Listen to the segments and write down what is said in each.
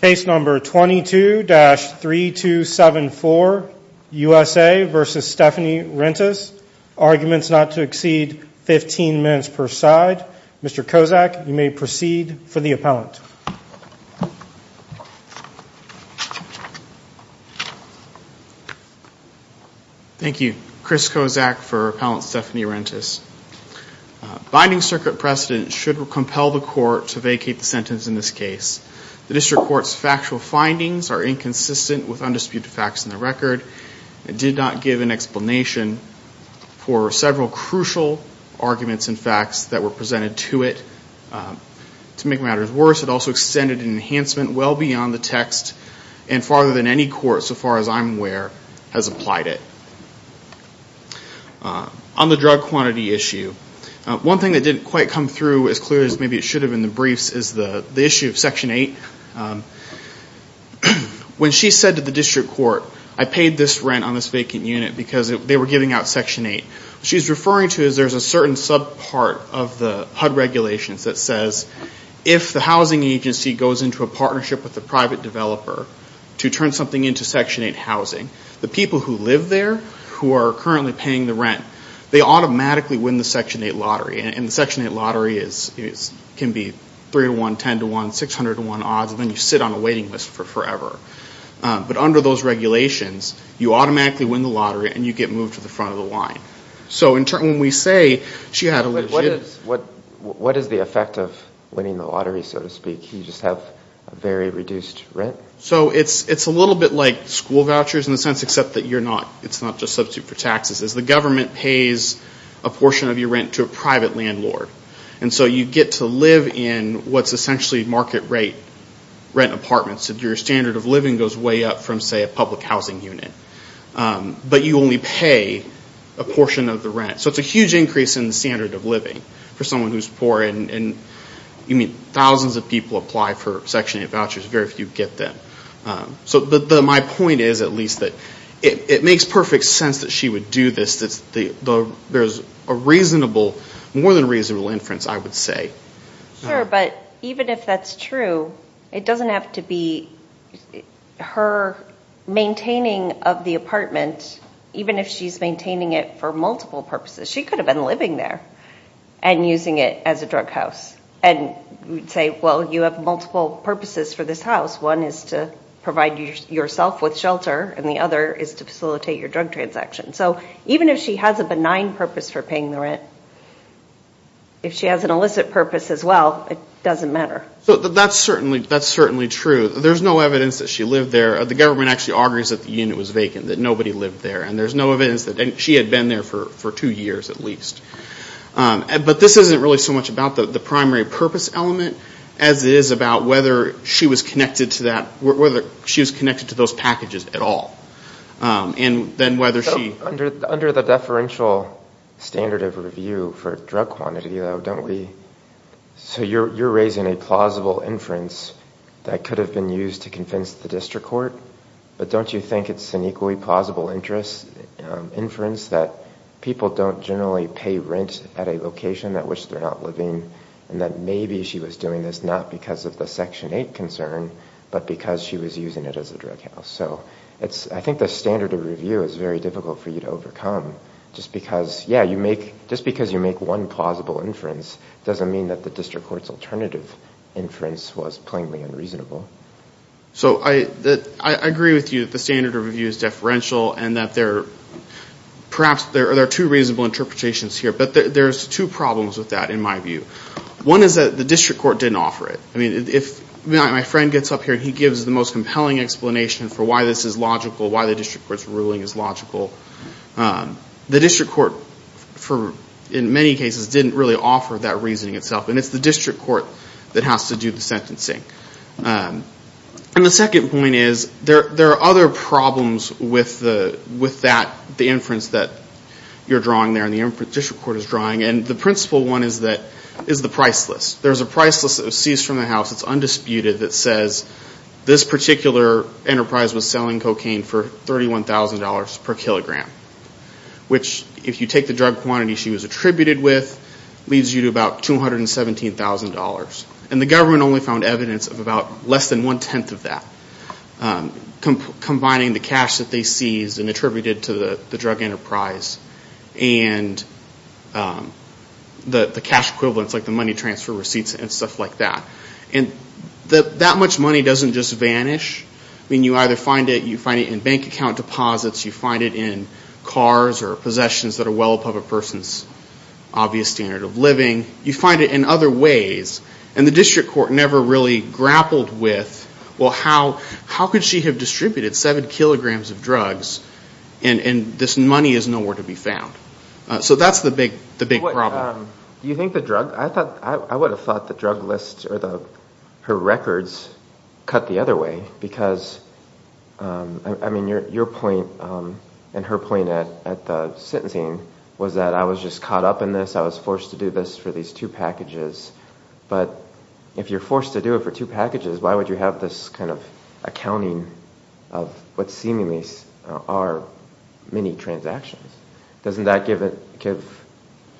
Case number 22-3274, USA v. Stephanie Rentas. Arguments not to exceed 15 minutes per side. Mr. Kozak, you may proceed for the appellant. Thank you. Chris Kozak for Appellant Stephanie Rentas. Binding circuit precedent should compel the court to vacate the sentence in this case. The District Court's factual findings are inconsistent with undisputed facts in the record. It did not give an explanation for several crucial arguments and facts that were presented to it. To make matters worse, it also extended an enhancement well beyond the text and farther than any court, so far as I'm aware, has applied it. On the drug quantity issue, one thing that didn't quite come through as clearly as maybe it should have in the briefs is the issue of Section 8. When she said to the District Court, I paid this rent on this vacant unit because they were giving out Section 8, what she's referring to is there's a certain subpart of the HUD regulations that says if the housing agency goes into a partnership with the private developer to turn something into Section 8 housing, the people who live there who are currently paying the rent, they automatically win the Section 8 lottery. And the Section 8 lottery can be 3-to-1, 10-to-1, 600-to-1 odds, and then you sit on a waiting list for forever. But under those regulations, you automatically win the lottery and you get moved to the front of the line. So when we say she had a legit... What is the effect of winning the lottery, so to speak? You just have a very reduced rent? So it's a little bit like school vouchers in the sense, except that it's not just substitute for taxes. The government pays a portion of your rent to a private landlord. And so you get to live in what's essentially market-rate rent apartments. Your standard of living goes way up from, say, a public housing unit. But you only pay a portion of the rent. So it's a huge increase in the standard of living for someone who's poor. And thousands of people apply for Section 8 vouchers. Very few get them. So my point is, at least, that it makes perfect sense that she would do this. There's a reasonable, more than reasonable inference, I would say. Sure, but even if that's true, it doesn't have to be her maintaining of the apartment, even if she's maintaining it for multiple purposes. She could have been living there and using it as a drug house. And we'd say, well, you have multiple purposes for this house. One is to provide yourself with shelter. And the other is to facilitate your drug transaction. So even if she has a benign purpose for paying the rent, if she has an illicit purpose as well, it doesn't matter. So that's certainly true. There's no evidence that she lived there. The government actually argues that the unit was vacant, that nobody lived there. And there's no evidence that she had been there for two years at least. But this isn't really so much about the primary purpose element as it is about whether she was connected to those packages at all. Under the deferential standard of review for drug quantity, though, don't we – so you're raising a plausible inference that could have been used to convince the district court. But don't you think it's an equally plausible inference that people don't generally pay rent at a location at which they're not living and that maybe she was doing this not because of the Section 8 concern but because she was using it as a drug house? So I think the standard of review is very difficult for you to overcome. Just because you make one plausible inference doesn't mean that the district court's alternative inference was plainly unreasonable. So I agree with you that the standard of review is deferential and that perhaps there are two reasonable interpretations here. But there's two problems with that in my view. One is that the district court didn't offer it. My friend gets up here and he gives the most compelling explanation for why this is logical, why the district court's ruling is logical. The district court, in many cases, didn't really offer that reasoning itself. And it's the district court that has to do the sentencing. And the second point is there are other problems with the inference that you're drawing there. And the principal one is the price list. There's a price list that was seized from the house that's undisputed that says this particular enterprise was selling cocaine for $31,000 per kilogram, which if you take the drug quantity she was attributed with, leaves you to about $217,000. And the government only found evidence of about less than one-tenth of that, combining the cash that they seized and attributed to the drug enterprise. And the cash equivalents like the money transfer receipts and stuff like that. And that much money doesn't just vanish. I mean, you either find it in bank account deposits, you find it in cars or possessions that are well above a person's obvious standard of living. You find it in other ways. And the district court never really grappled with, well, how could she have distributed seven kilograms of drugs and this money is nowhere to be found. So that's the big problem. Do you think the drug, I would have thought the drug list or her records cut the other way. Because, I mean, your point and her point at the sentencing was that I was just caught up in this, I was forced to do this for these two packages. But if you're forced to do it for two packages, why would you have this kind of accounting of what seemingly are many transactions? Doesn't that give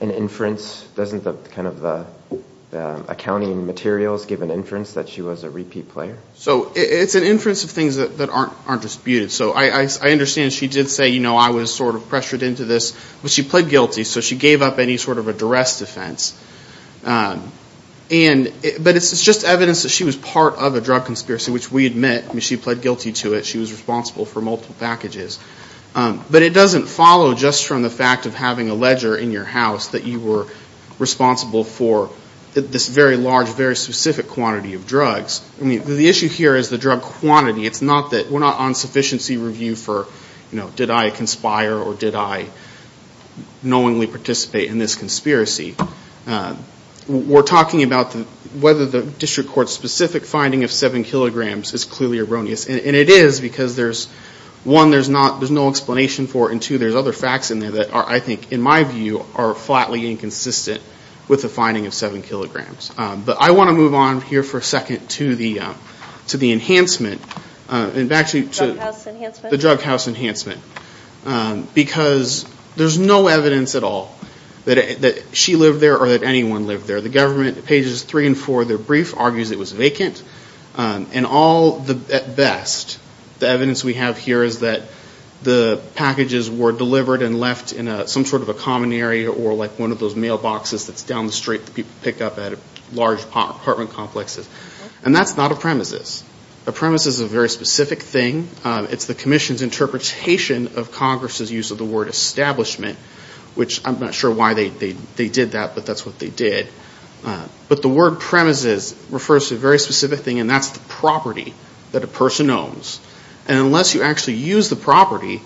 an inference? Doesn't the accounting materials give an inference that she was a repeat player? So it's an inference of things that aren't disputed. So I understand she did say, you know, I was sort of pressured into this. But she pled guilty, so she gave up any sort of a duress defense. But it's just evidence that she was part of a drug conspiracy, which we admit. I mean, she pled guilty to it. She was responsible for multiple packages. But it doesn't follow just from the fact of having a ledger in your house that you were responsible for this very large, very specific quantity of drugs. I mean, the issue here is the drug quantity. It's not that we're not on sufficiency review for, you know, did I conspire or did I knowingly participate in this conspiracy? We're talking about whether the district court's specific finding of 7 kilograms is clearly erroneous. And it is because, one, there's no explanation for it, and, two, there's other facts in there that I think, in my view, are flatly inconsistent with the finding of 7 kilograms. But I want to move on here for a second to the enhancement. And back to the drug house enhancement. Because there's no evidence at all that she lived there or that anyone lived there. The government, pages 3 and 4 of their brief argues it was vacant. And all, at best, the evidence we have here is that the packages were delivered and left in some sort of a common area or like one of those mailboxes that's down the street that people pick up at large apartment complexes. And that's not a premises. A premises is a very specific thing. It's the commission's interpretation of Congress's use of the word establishment, which I'm not sure why they did that, but that's what they did. But the word premises refers to a very specific thing, and that's the property that a person owns. And unless you actually use the property,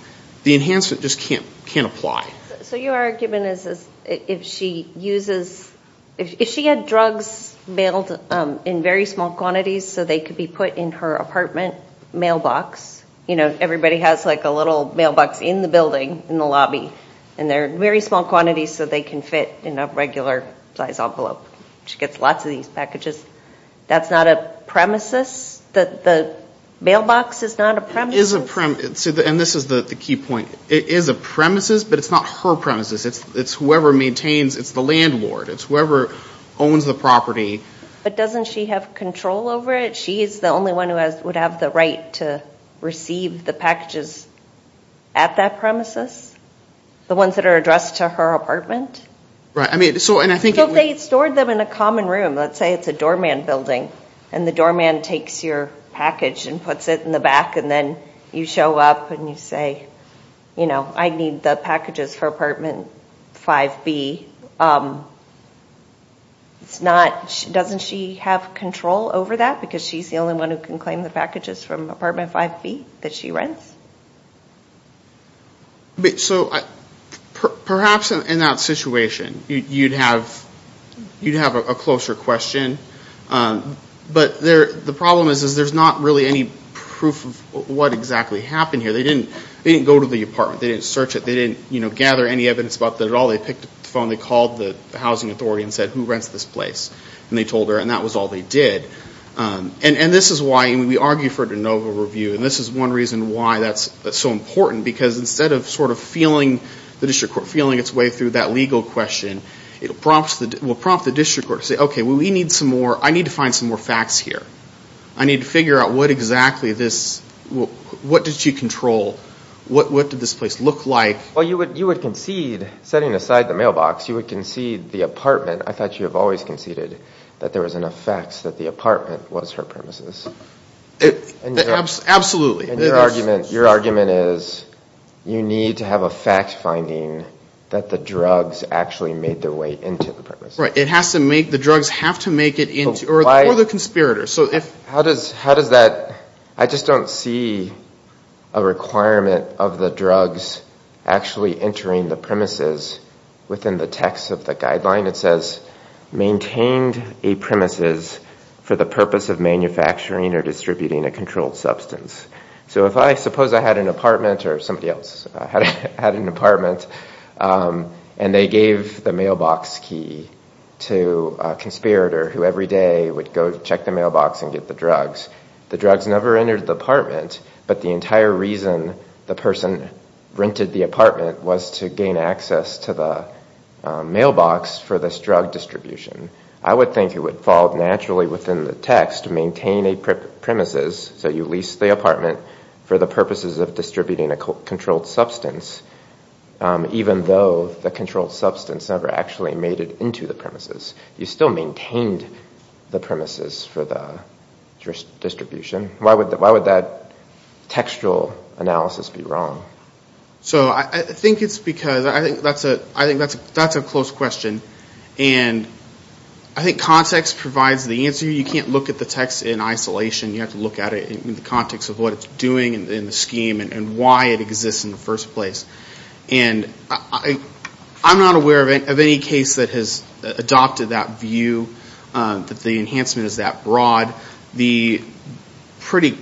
the enhancement just can't apply. So your argument is if she uses, if she had drugs mailed in very small quantities so they could be put in her apartment mailbox, you know, everybody has like a little mailbox in the building, in the lobby, and they're in very small quantities so they can fit in a regular size envelope. She gets lots of these packages. That's not a premises? The mailbox is not a premises? And this is the key point. It is a premises, but it's not her premises. It's whoever maintains. It's the landlord. It's whoever owns the property. But doesn't she have control over it? She is the only one who would have the right to receive the packages at that premises, the ones that are addressed to her apartment? So if they stored them in a common room, let's say it's a doorman building, and the doorman takes your package and puts it in the back, and then you show up and you say, you know, I need the packages for apartment 5B, doesn't she have control over that because she's the only one who can claim the packages from apartment 5B that she rents? So perhaps in that situation you'd have a closer question. But the problem is there's not really any proof of what exactly happened here. They didn't go to the apartment. They didn't search it. They didn't gather any evidence about it at all. They picked up the phone. They called the housing authority and said, who rents this place? And they told her, and that was all they did. And this is why we argue for a de novo review. And this is one reason why that's so important, because instead of sort of feeling the district court, feeling its way through that legal question, it will prompt the district court to say, okay, we need some more, I need to find some more facts here. I need to figure out what exactly this, what did she control? What did this place look like? Well, you would concede, setting aside the mailbox, you would concede the apartment. I thought you have always conceded that there was enough facts that the apartment was her premises. Absolutely. And your argument is you need to have a fact finding that the drugs actually made their way into the premises. Right. It has to make, the drugs have to make it into, or the conspirators. How does that, I just don't see a requirement of the drugs actually entering the premises within the text of the guideline. It says, maintained a premises for the purpose of manufacturing or distributing a controlled substance. So if I suppose I had an apartment, or somebody else had an apartment, and they gave the mailbox key to a conspirator who every day would go check the mailbox and get the drugs, the drugs never entered the apartment, but the entire reason the person rented the apartment was to gain access to the mailbox for this drug distribution. I would think it would fall naturally within the text, maintain a premises, so you leased the apartment for the purposes of distributing a controlled substance, even though the controlled substance never actually made it into the premises. You still maintained the premises for the distribution. Why would that textual analysis be wrong? So I think it's because, I think that's a close question, and I think context provides the answer. You can't look at the text in isolation. You have to look at it in the context of what it's doing in the scheme and why it exists in the first place. And I'm not aware of any case that has adopted that view, that the enhancement is that broad. The pretty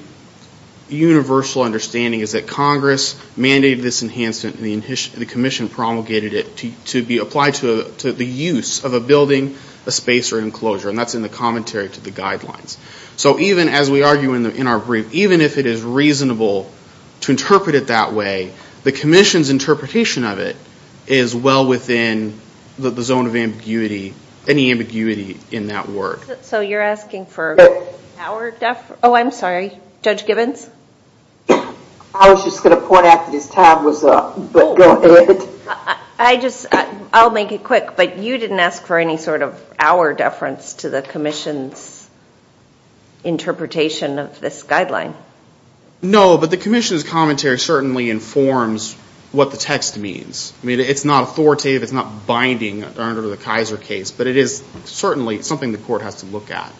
universal understanding is that Congress mandated this enhancement and the commission promulgated it to be applied to the use of a building, a space, or an enclosure, and that's in the commentary to the guidelines. So even as we argue in our brief, even if it is reasonable to interpret it that way, the commission's interpretation of it is well within the zone of ambiguity, any ambiguity in that word. So you're asking for our deference? Oh, I'm sorry. Judge Gibbons? I was just going to point out that his time was up, but go ahead. I'll make it quick, but you didn't ask for any sort of our deference to the commission's interpretation of this guideline. No, but the commission's commentary certainly informs what the text means. It's not authoritative. It's not binding under the Kaiser case, but it is certainly something the court has to look at.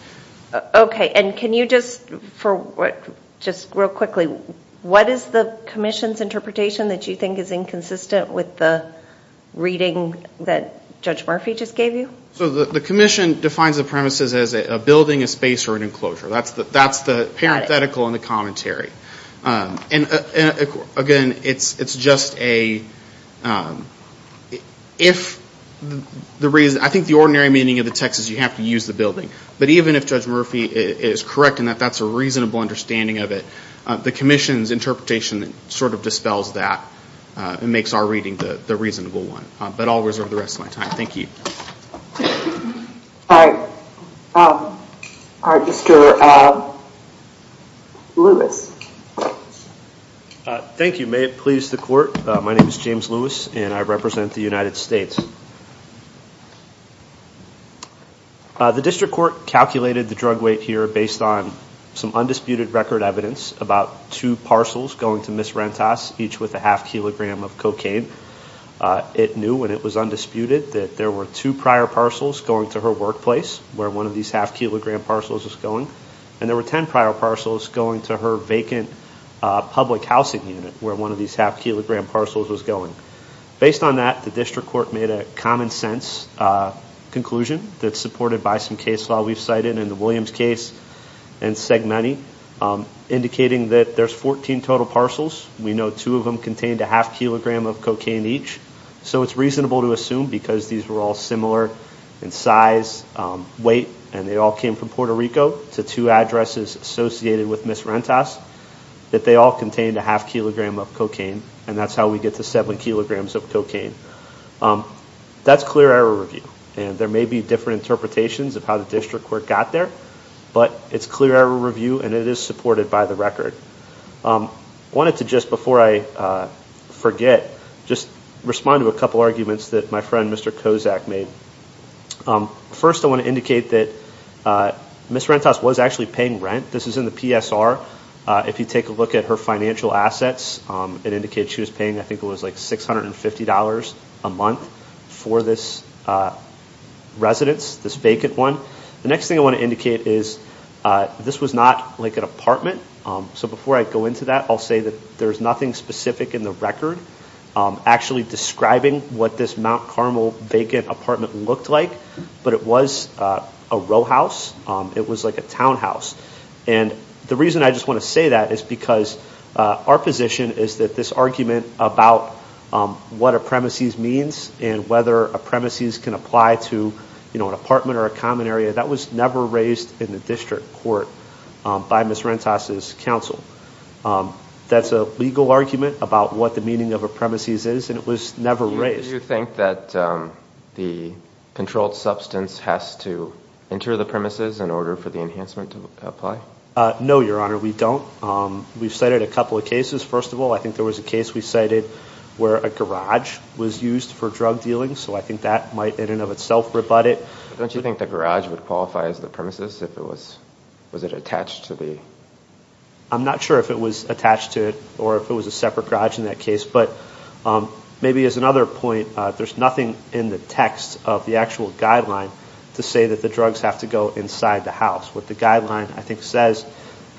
Okay, and can you just real quickly, what is the commission's interpretation that you think is inconsistent with the reading that Judge Murphy just gave you? So the commission defines the premises as a building, a space, or an enclosure. That's the parenthetical in the commentary. Again, I think the ordinary meaning of the text is you have to use the building, but even if Judge Murphy is correct in that that's a reasonable understanding of it, the commission's interpretation sort of dispels that and makes our reading the reasonable one. But I'll reserve the rest of my time. Thank you. All right. All right, Mr. Lewis. Thank you. May it please the court, my name is James Lewis, and I represent the United States. The district court calculated the drug weight here based on some undisputed record evidence about two parcels going to Ms. Rentas, each with a half kilogram of cocaine. It knew, and it was undisputed, that there were two prior parcels going to her workplace, where one of these half kilogram parcels was going, and there were ten prior parcels going to her vacant public housing unit, where one of these half kilogram parcels was going. Based on that, the district court made a common sense conclusion that's supported by some case law we've cited in the Williams case and SegMoney, indicating that there's 14 total parcels. We know two of them contained a half kilogram of cocaine each, so it's reasonable to assume, because these were all similar in size, weight, and they all came from Puerto Rico to two addresses associated with Ms. Rentas, that they all contained a half kilogram of cocaine, and that's how we get to seven kilograms of cocaine. That's clear error review, and there may be different interpretations of how the district court got there, but it's clear error review, and it is supported by the record. I wanted to just, before I forget, just respond to a couple arguments that my friend Mr. Kozak made. First, I want to indicate that Ms. Rentas was actually paying rent. This is in the PSR. If you take a look at her financial assets, it indicates she was paying, I think it was like $650 a month for this residence, this vacant one. The next thing I want to indicate is this was not like an apartment, so before I go into that, I'll say that there's nothing specific in the record actually describing what this Mount Carmel vacant apartment looked like, but it was a row house. It was like a townhouse, and the reason I just want to say that is because our position is that this argument about what a premises means and whether a premises can apply to, you know, an apartment or a common area, that was never raised in the district court by Ms. Rentas' counsel. That's a legal argument about what the meaning of a premises is, and it was never raised. Do you think that the controlled substance has to enter the premises in order for the enhancement to apply? No, Your Honor, we don't. We've cited a couple of cases. First of all, I think there was a case we cited where a garage was used for drug dealing, so I think that might in and of itself rebut it. Don't you think the garage would qualify as the premises if it was attached to the? I'm not sure if it was attached to it or if it was a separate garage in that case, but maybe as another point, there's nothing in the text of the actual guideline to say that the drugs have to go inside the house. What the guideline, I think, says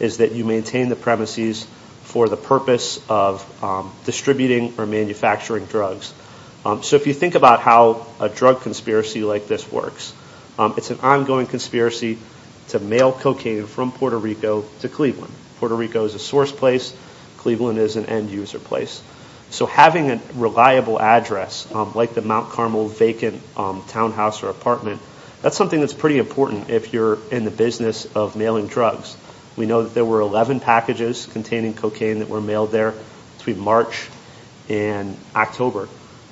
is that you maintain the premises for the purpose of distributing or manufacturing drugs. So if you think about how a drug conspiracy like this works, it's an ongoing conspiracy to mail cocaine from Puerto Rico to Cleveland. Puerto Rico is a source place. Cleveland is an end user place. So having a reliable address, like the Mount Carmel vacant townhouse or apartment, that's something that's pretty important if you're in the business of mailing drugs. We know that there were 11 packages containing cocaine that were mailed there between March and October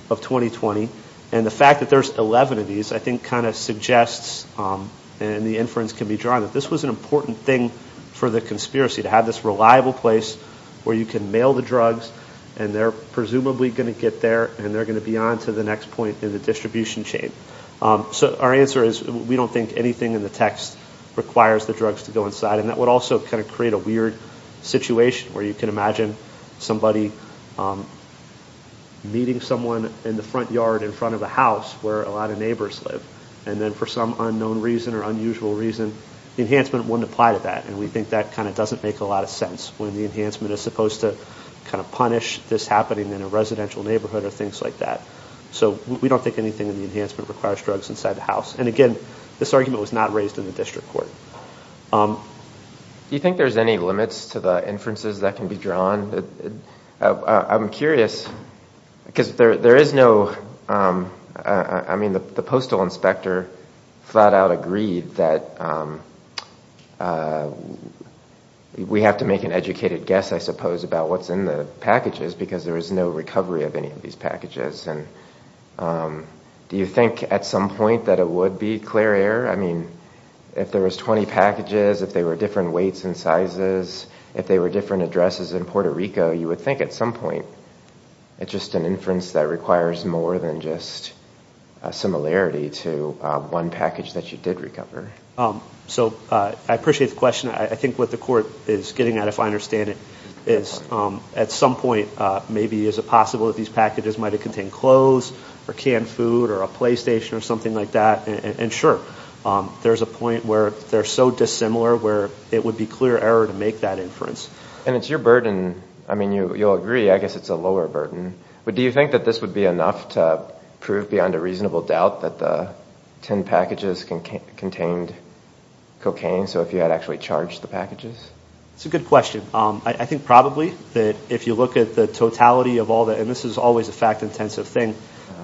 of 2020. And the fact that there's 11 of these, I think, kind of suggests, and the inference can be drawn, that this was an important thing for the conspiracy, to have this reliable place where you can mail the drugs and they're presumably going to get there and they're going to be on to the next point in the distribution chain. So our answer is we don't think anything in the text requires the drugs to go inside. And that would also kind of create a weird situation where you can imagine somebody meeting someone in the front yard in front of a house where a lot of neighbors live. And then for some unknown reason or unusual reason, the enhancement wouldn't apply to that. And we think that kind of doesn't make a lot of sense when the enhancement is supposed to kind of punish this happening in a residential neighborhood or things like that. So we don't think anything in the enhancement requires drugs inside the house. And again, this argument was not raised in the district court. Do you think there's any limits to the inferences that can be drawn? I'm curious because there is no, I mean, the postal inspector flat out agreed that we have to make an educated guess, I suppose, about what's in the packages because there is no recovery of any of these packages. And do you think at some point that it would be clear error? I mean, if there was 20 packages, if they were different weights and sizes, if they were different addresses in Puerto Rico, you would think at some point it's just an inference that requires more than just a similarity to one package that you did recover. So I appreciate the question. I think what the court is getting at, if I understand it, is at some point maybe is it possible that these packages might have contained clothes or canned food or a PlayStation or something like that. And sure, there's a point where they're so dissimilar where it would be clear error to make that inference. And it's your burden. I mean, you'll agree, I guess it's a lower burden. But do you think that this would be enough to prove beyond a reasonable doubt that the 10 packages contained cocaine? So if you had actually charged the packages? It's a good question. I think probably that if you look at the totality of all that, and this is always a fact-intensive thing,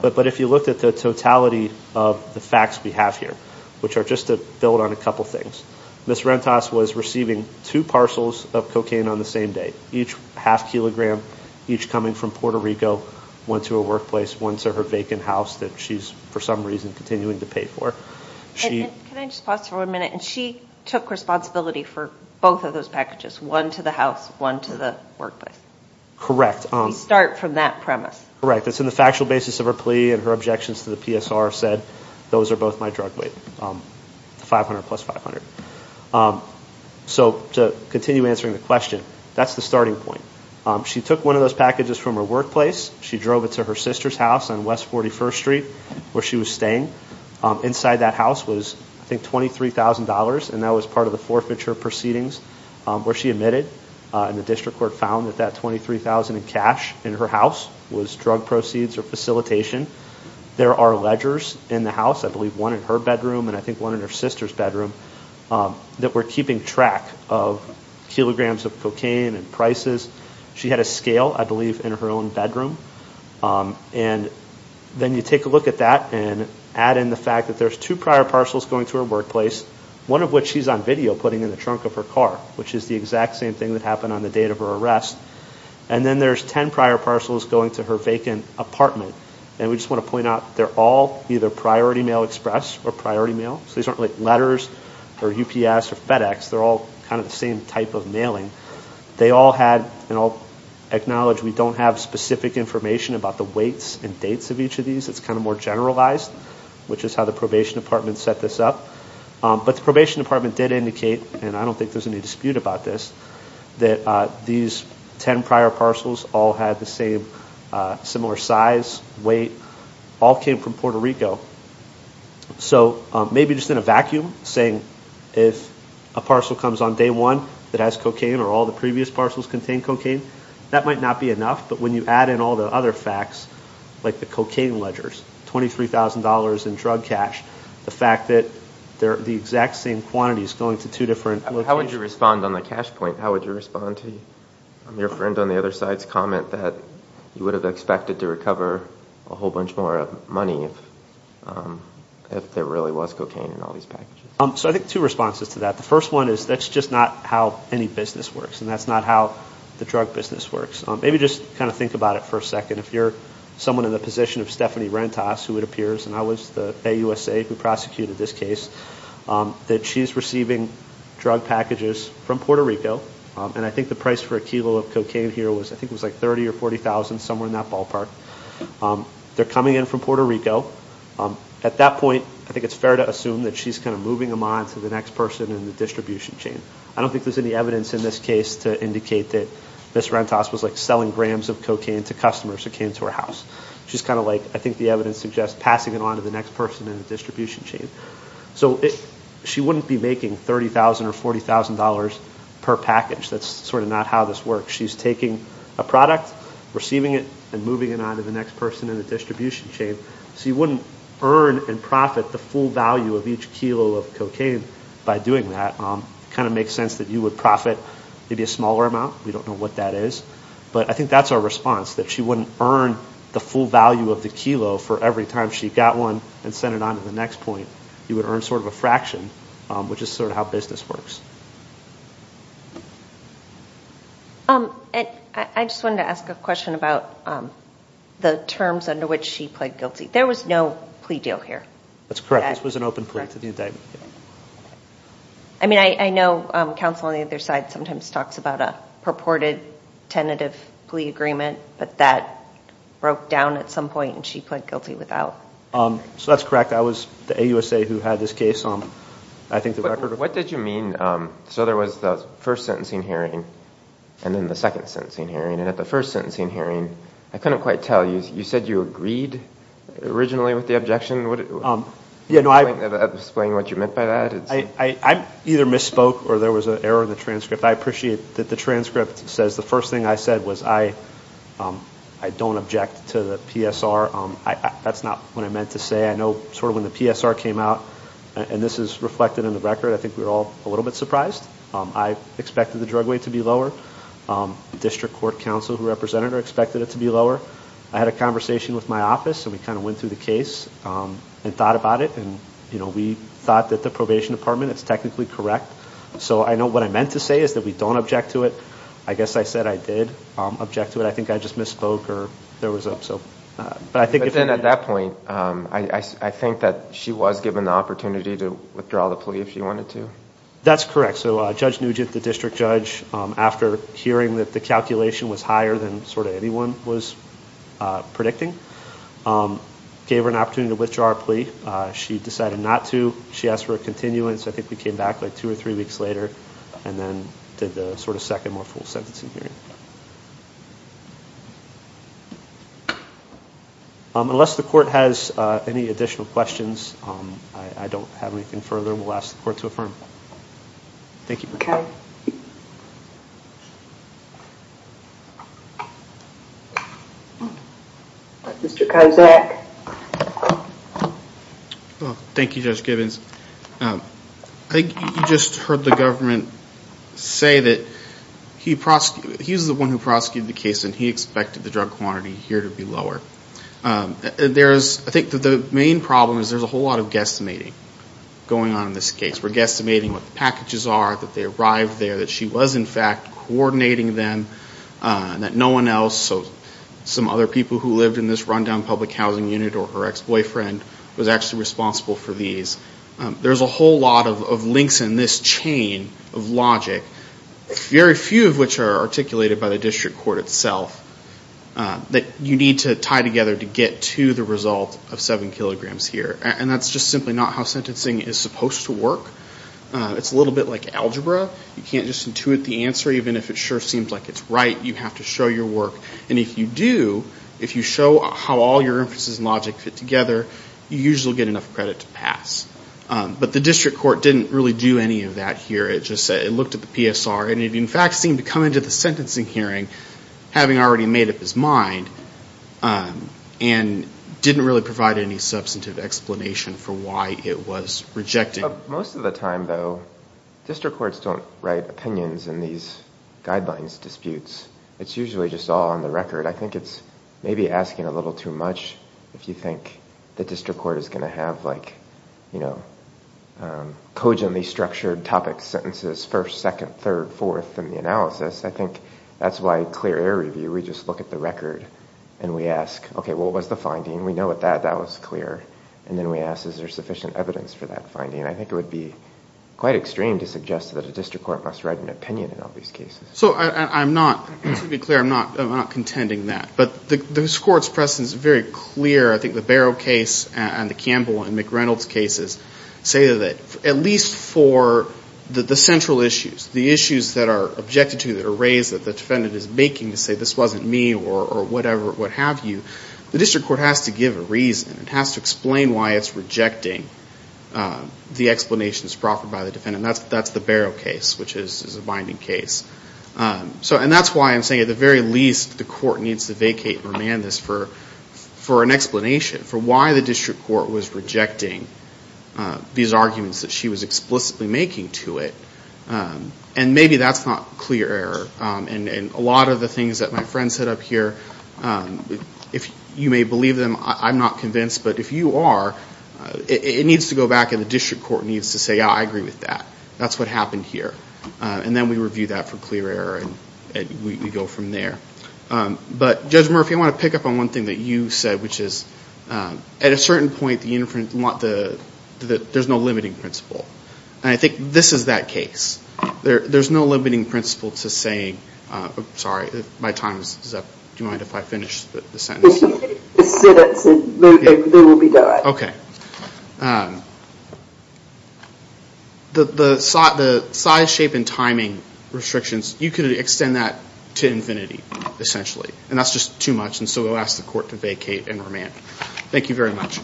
but if you looked at the totality of the facts we have here, which are just to build on a couple things, Ms. Rentas was receiving two parcels of cocaine on the same day, each half kilogram, each coming from Puerto Rico, one to her workplace, one to her vacant house that she's for some reason continuing to pay for. Can I just pause for a minute? And she took responsibility for both of those packages, one to the house, one to the workplace. Correct. You start from that premise. Correct. It's in the factual basis of her plea and her objections to the PSR said, those are both my drug weight, 500 plus 500. So to continue answering the question, that's the starting point. She took one of those packages from her workplace. She drove it to her sister's house on West 41st Street where she was staying. Inside that house was, I think, $23,000, and that was part of the forfeiture proceedings where she admitted, and the district court found that that $23,000 in cash in her house was drug proceeds or facilitation. There are ledgers in the house, I believe one in her bedroom and I think one in her sister's bedroom, that were keeping track of kilograms of cocaine and prices. She had a scale, I believe, in her own bedroom. And then you take a look at that and add in the fact that there's two prior parcels going to her workplace, one of which she's on video putting in the trunk of her car, which is the exact same thing that happened on the date of her arrest. And then there's ten prior parcels going to her vacant apartment. And we just want to point out, they're all either Priority Mail Express or Priority Mail. So these aren't letters or UPS or FedEx. They're all kind of the same type of mailing. They all had, and I'll acknowledge, we don't have specific information about the weights and dates of each of these. It's kind of more generalized, which is how the probation department set this up. But the probation department did indicate, and I don't think there's any dispute about this, that these ten prior parcels all had the same similar size, weight, all came from Puerto Rico. So maybe just in a vacuum, saying if a parcel comes on day one that has cocaine or all the previous parcels contain cocaine, that might not be enough. But when you add in all the other facts, like the cocaine ledgers, $23,000 in drug cash, the fact that the exact same quantity is going to two different locations. How would you respond on the cash point? How would you respond to your friend on the other side's comment that you would have expected to recover a whole bunch more money if there really was cocaine in all these packages? So I think two responses to that. The first one is that's just not how any business works, and that's not how the drug business works. Maybe just kind of think about it for a second. If you're someone in the position of Stephanie Rentas, who it appears, and I was the AUSA who prosecuted this case, that she's receiving drug packages from Puerto Rico, and I think the price for a kilo of cocaine here was, I think it was like $30,000 or $40,000, somewhere in that ballpark. They're coming in from Puerto Rico. At that point, I think it's fair to assume that she's kind of moving them on to the next person in the distribution chain. I don't think there's any evidence in this case to indicate that Ms. Rentas was like selling grams of cocaine to customers who came to her house. She's kind of like, I think the evidence suggests, passing it on to the next person in the distribution chain. So she wouldn't be making $30,000 or $40,000 per package. That's sort of not how this works. She's taking a product, receiving it, and moving it on to the next person in the distribution chain. So you wouldn't earn and profit the full value of each kilo of cocaine by doing that. It kind of makes sense that you would profit maybe a smaller amount. We don't know what that is. But I think that's our response, that she wouldn't earn the full value of the kilo for every time she got one and sent it on to the next point. You would earn sort of a fraction, which is sort of how business works. I just wanted to ask a question about the terms under which she pled guilty. There was no plea deal here. That's correct. This was an open plea to the indictment. I mean, I know counsel on the other side sometimes talks about a purported tentative plea agreement, but that broke down at some point and she pled guilty without. So that's correct. I was the AUSA who had this case. What did you mean? So there was the first sentencing hearing and then the second sentencing hearing. At the first sentencing hearing, I couldn't quite tell. You said you agreed originally with the objection. Can you explain what you meant by that? I either misspoke or there was an error in the transcript. I appreciate that the transcript says the first thing I said was I don't object to the PSR. That's not what I meant to say. I know sort of when the PSR came out, and this is reflected in the record, I think we were all a little bit surprised. I expected the drug weight to be lower. The district court counsel who represented her expected it to be lower. I had a conversation with my office, and we kind of went through the case and thought about it, and we thought that the probation department, it's technically correct. So I know what I meant to say is that we don't object to it. I guess I said I did object to it. I think I just misspoke. But then at that point, I think that she was given the opportunity to withdraw the plea if she wanted to. That's correct. So Judge Nugent, the district judge, after hearing that the calculation was higher than sort of anyone was predicting, gave her an opportunity to withdraw her plea. She decided not to. She asked for a continuance. I think we came back like two or three weeks later and then did the sort of second more full sentencing hearing. Thank you. Unless the court has any additional questions, I don't have anything further. We'll ask the court to affirm. Thank you. Okay. Mr. Kozak. Thank you, Judge Gibbons. I think you just heard the government say that he was the one who prosecuted the case and he expected the drug quantity here to be lower. I think the main problem is there's a whole lot of guesstimating going on in this case. We're guesstimating what the packages are, that they arrived there, that she was in fact coordinating them, that no one else, so some other people who lived in this rundown public housing unit or her ex-boyfriend was actually responsible for these. There's a whole lot of links in this chain of logic, very few of which are articulated by the district court itself, that you need to tie together to get to the result of seven kilograms here. And that's just simply not how sentencing is supposed to work. It's a little bit like algebra. You can't just intuit the answer even if it sure seems like it's right. You have to show your work. And if you do, if you show how all your inferences and logic fit together, you usually get enough credit to pass. But the district court didn't really do any of that here. It just looked at the PSR and it in fact seemed to come into the sentencing hearing, having already made up his mind, and didn't really provide any substantive explanation for why it was rejecting. Most of the time, though, district courts don't write opinions in these guidelines disputes. It's usually just all on the record. I think it's maybe asking a little too much if you think the district court is going to have cogently structured topics, sentences, first, second, third, fourth in the analysis. I think that's why clear error review, we just look at the record and we ask, okay, what was the finding? We know that that was clear. And then we ask, is there sufficient evidence for that finding? I think it would be quite extreme to suggest that a district court must write an opinion in all these cases. So I'm not, to be clear, I'm not contending that. But this Court's precedent is very clear. I think the Barrow case and the Campbell and McReynolds cases say that at least for the central issues, the issues that are objected to, that are raised, that the defendant is making to say this wasn't me or whatever, what have you, the district court has to give a reason. It has to explain why it's rejecting the explanations proffered by the defendant. And that's the Barrow case, which is a binding case. And that's why I'm saying at the very least the court needs to vacate and remand this for an explanation, for why the district court was rejecting these arguments that she was explicitly making to it. And maybe that's not clear error. And a lot of the things that my friend said up here, if you may believe them, I'm not convinced, but if you are, it needs to go back and the district court needs to say, yeah, I agree with that. That's what happened here. And then we review that for clear error and we go from there. But Judge Murphy, I want to pick up on one thing that you said, which is at a certain point there's no limiting principle. And I think this is that case. There's no limiting principle to saying, sorry, my time is up. Do you mind if I finish the sentence? Finish the sentence and then we'll be done. Okay. The size, shape, and timing restrictions, you could extend that to infinity essentially. And that's just too much. And so we'll ask the court to vacate and remand. Thank you very much.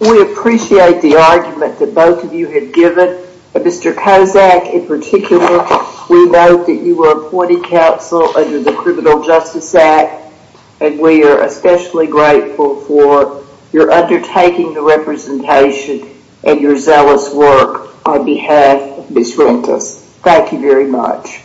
We appreciate the argument that both of you have given. Mr. Kozak in particular, we note that you were appointed counsel under the Criminal Justice Act. And we are especially grateful for your undertaking the representation and your zealous work on behalf of Ms. Rentas. Thank you very much.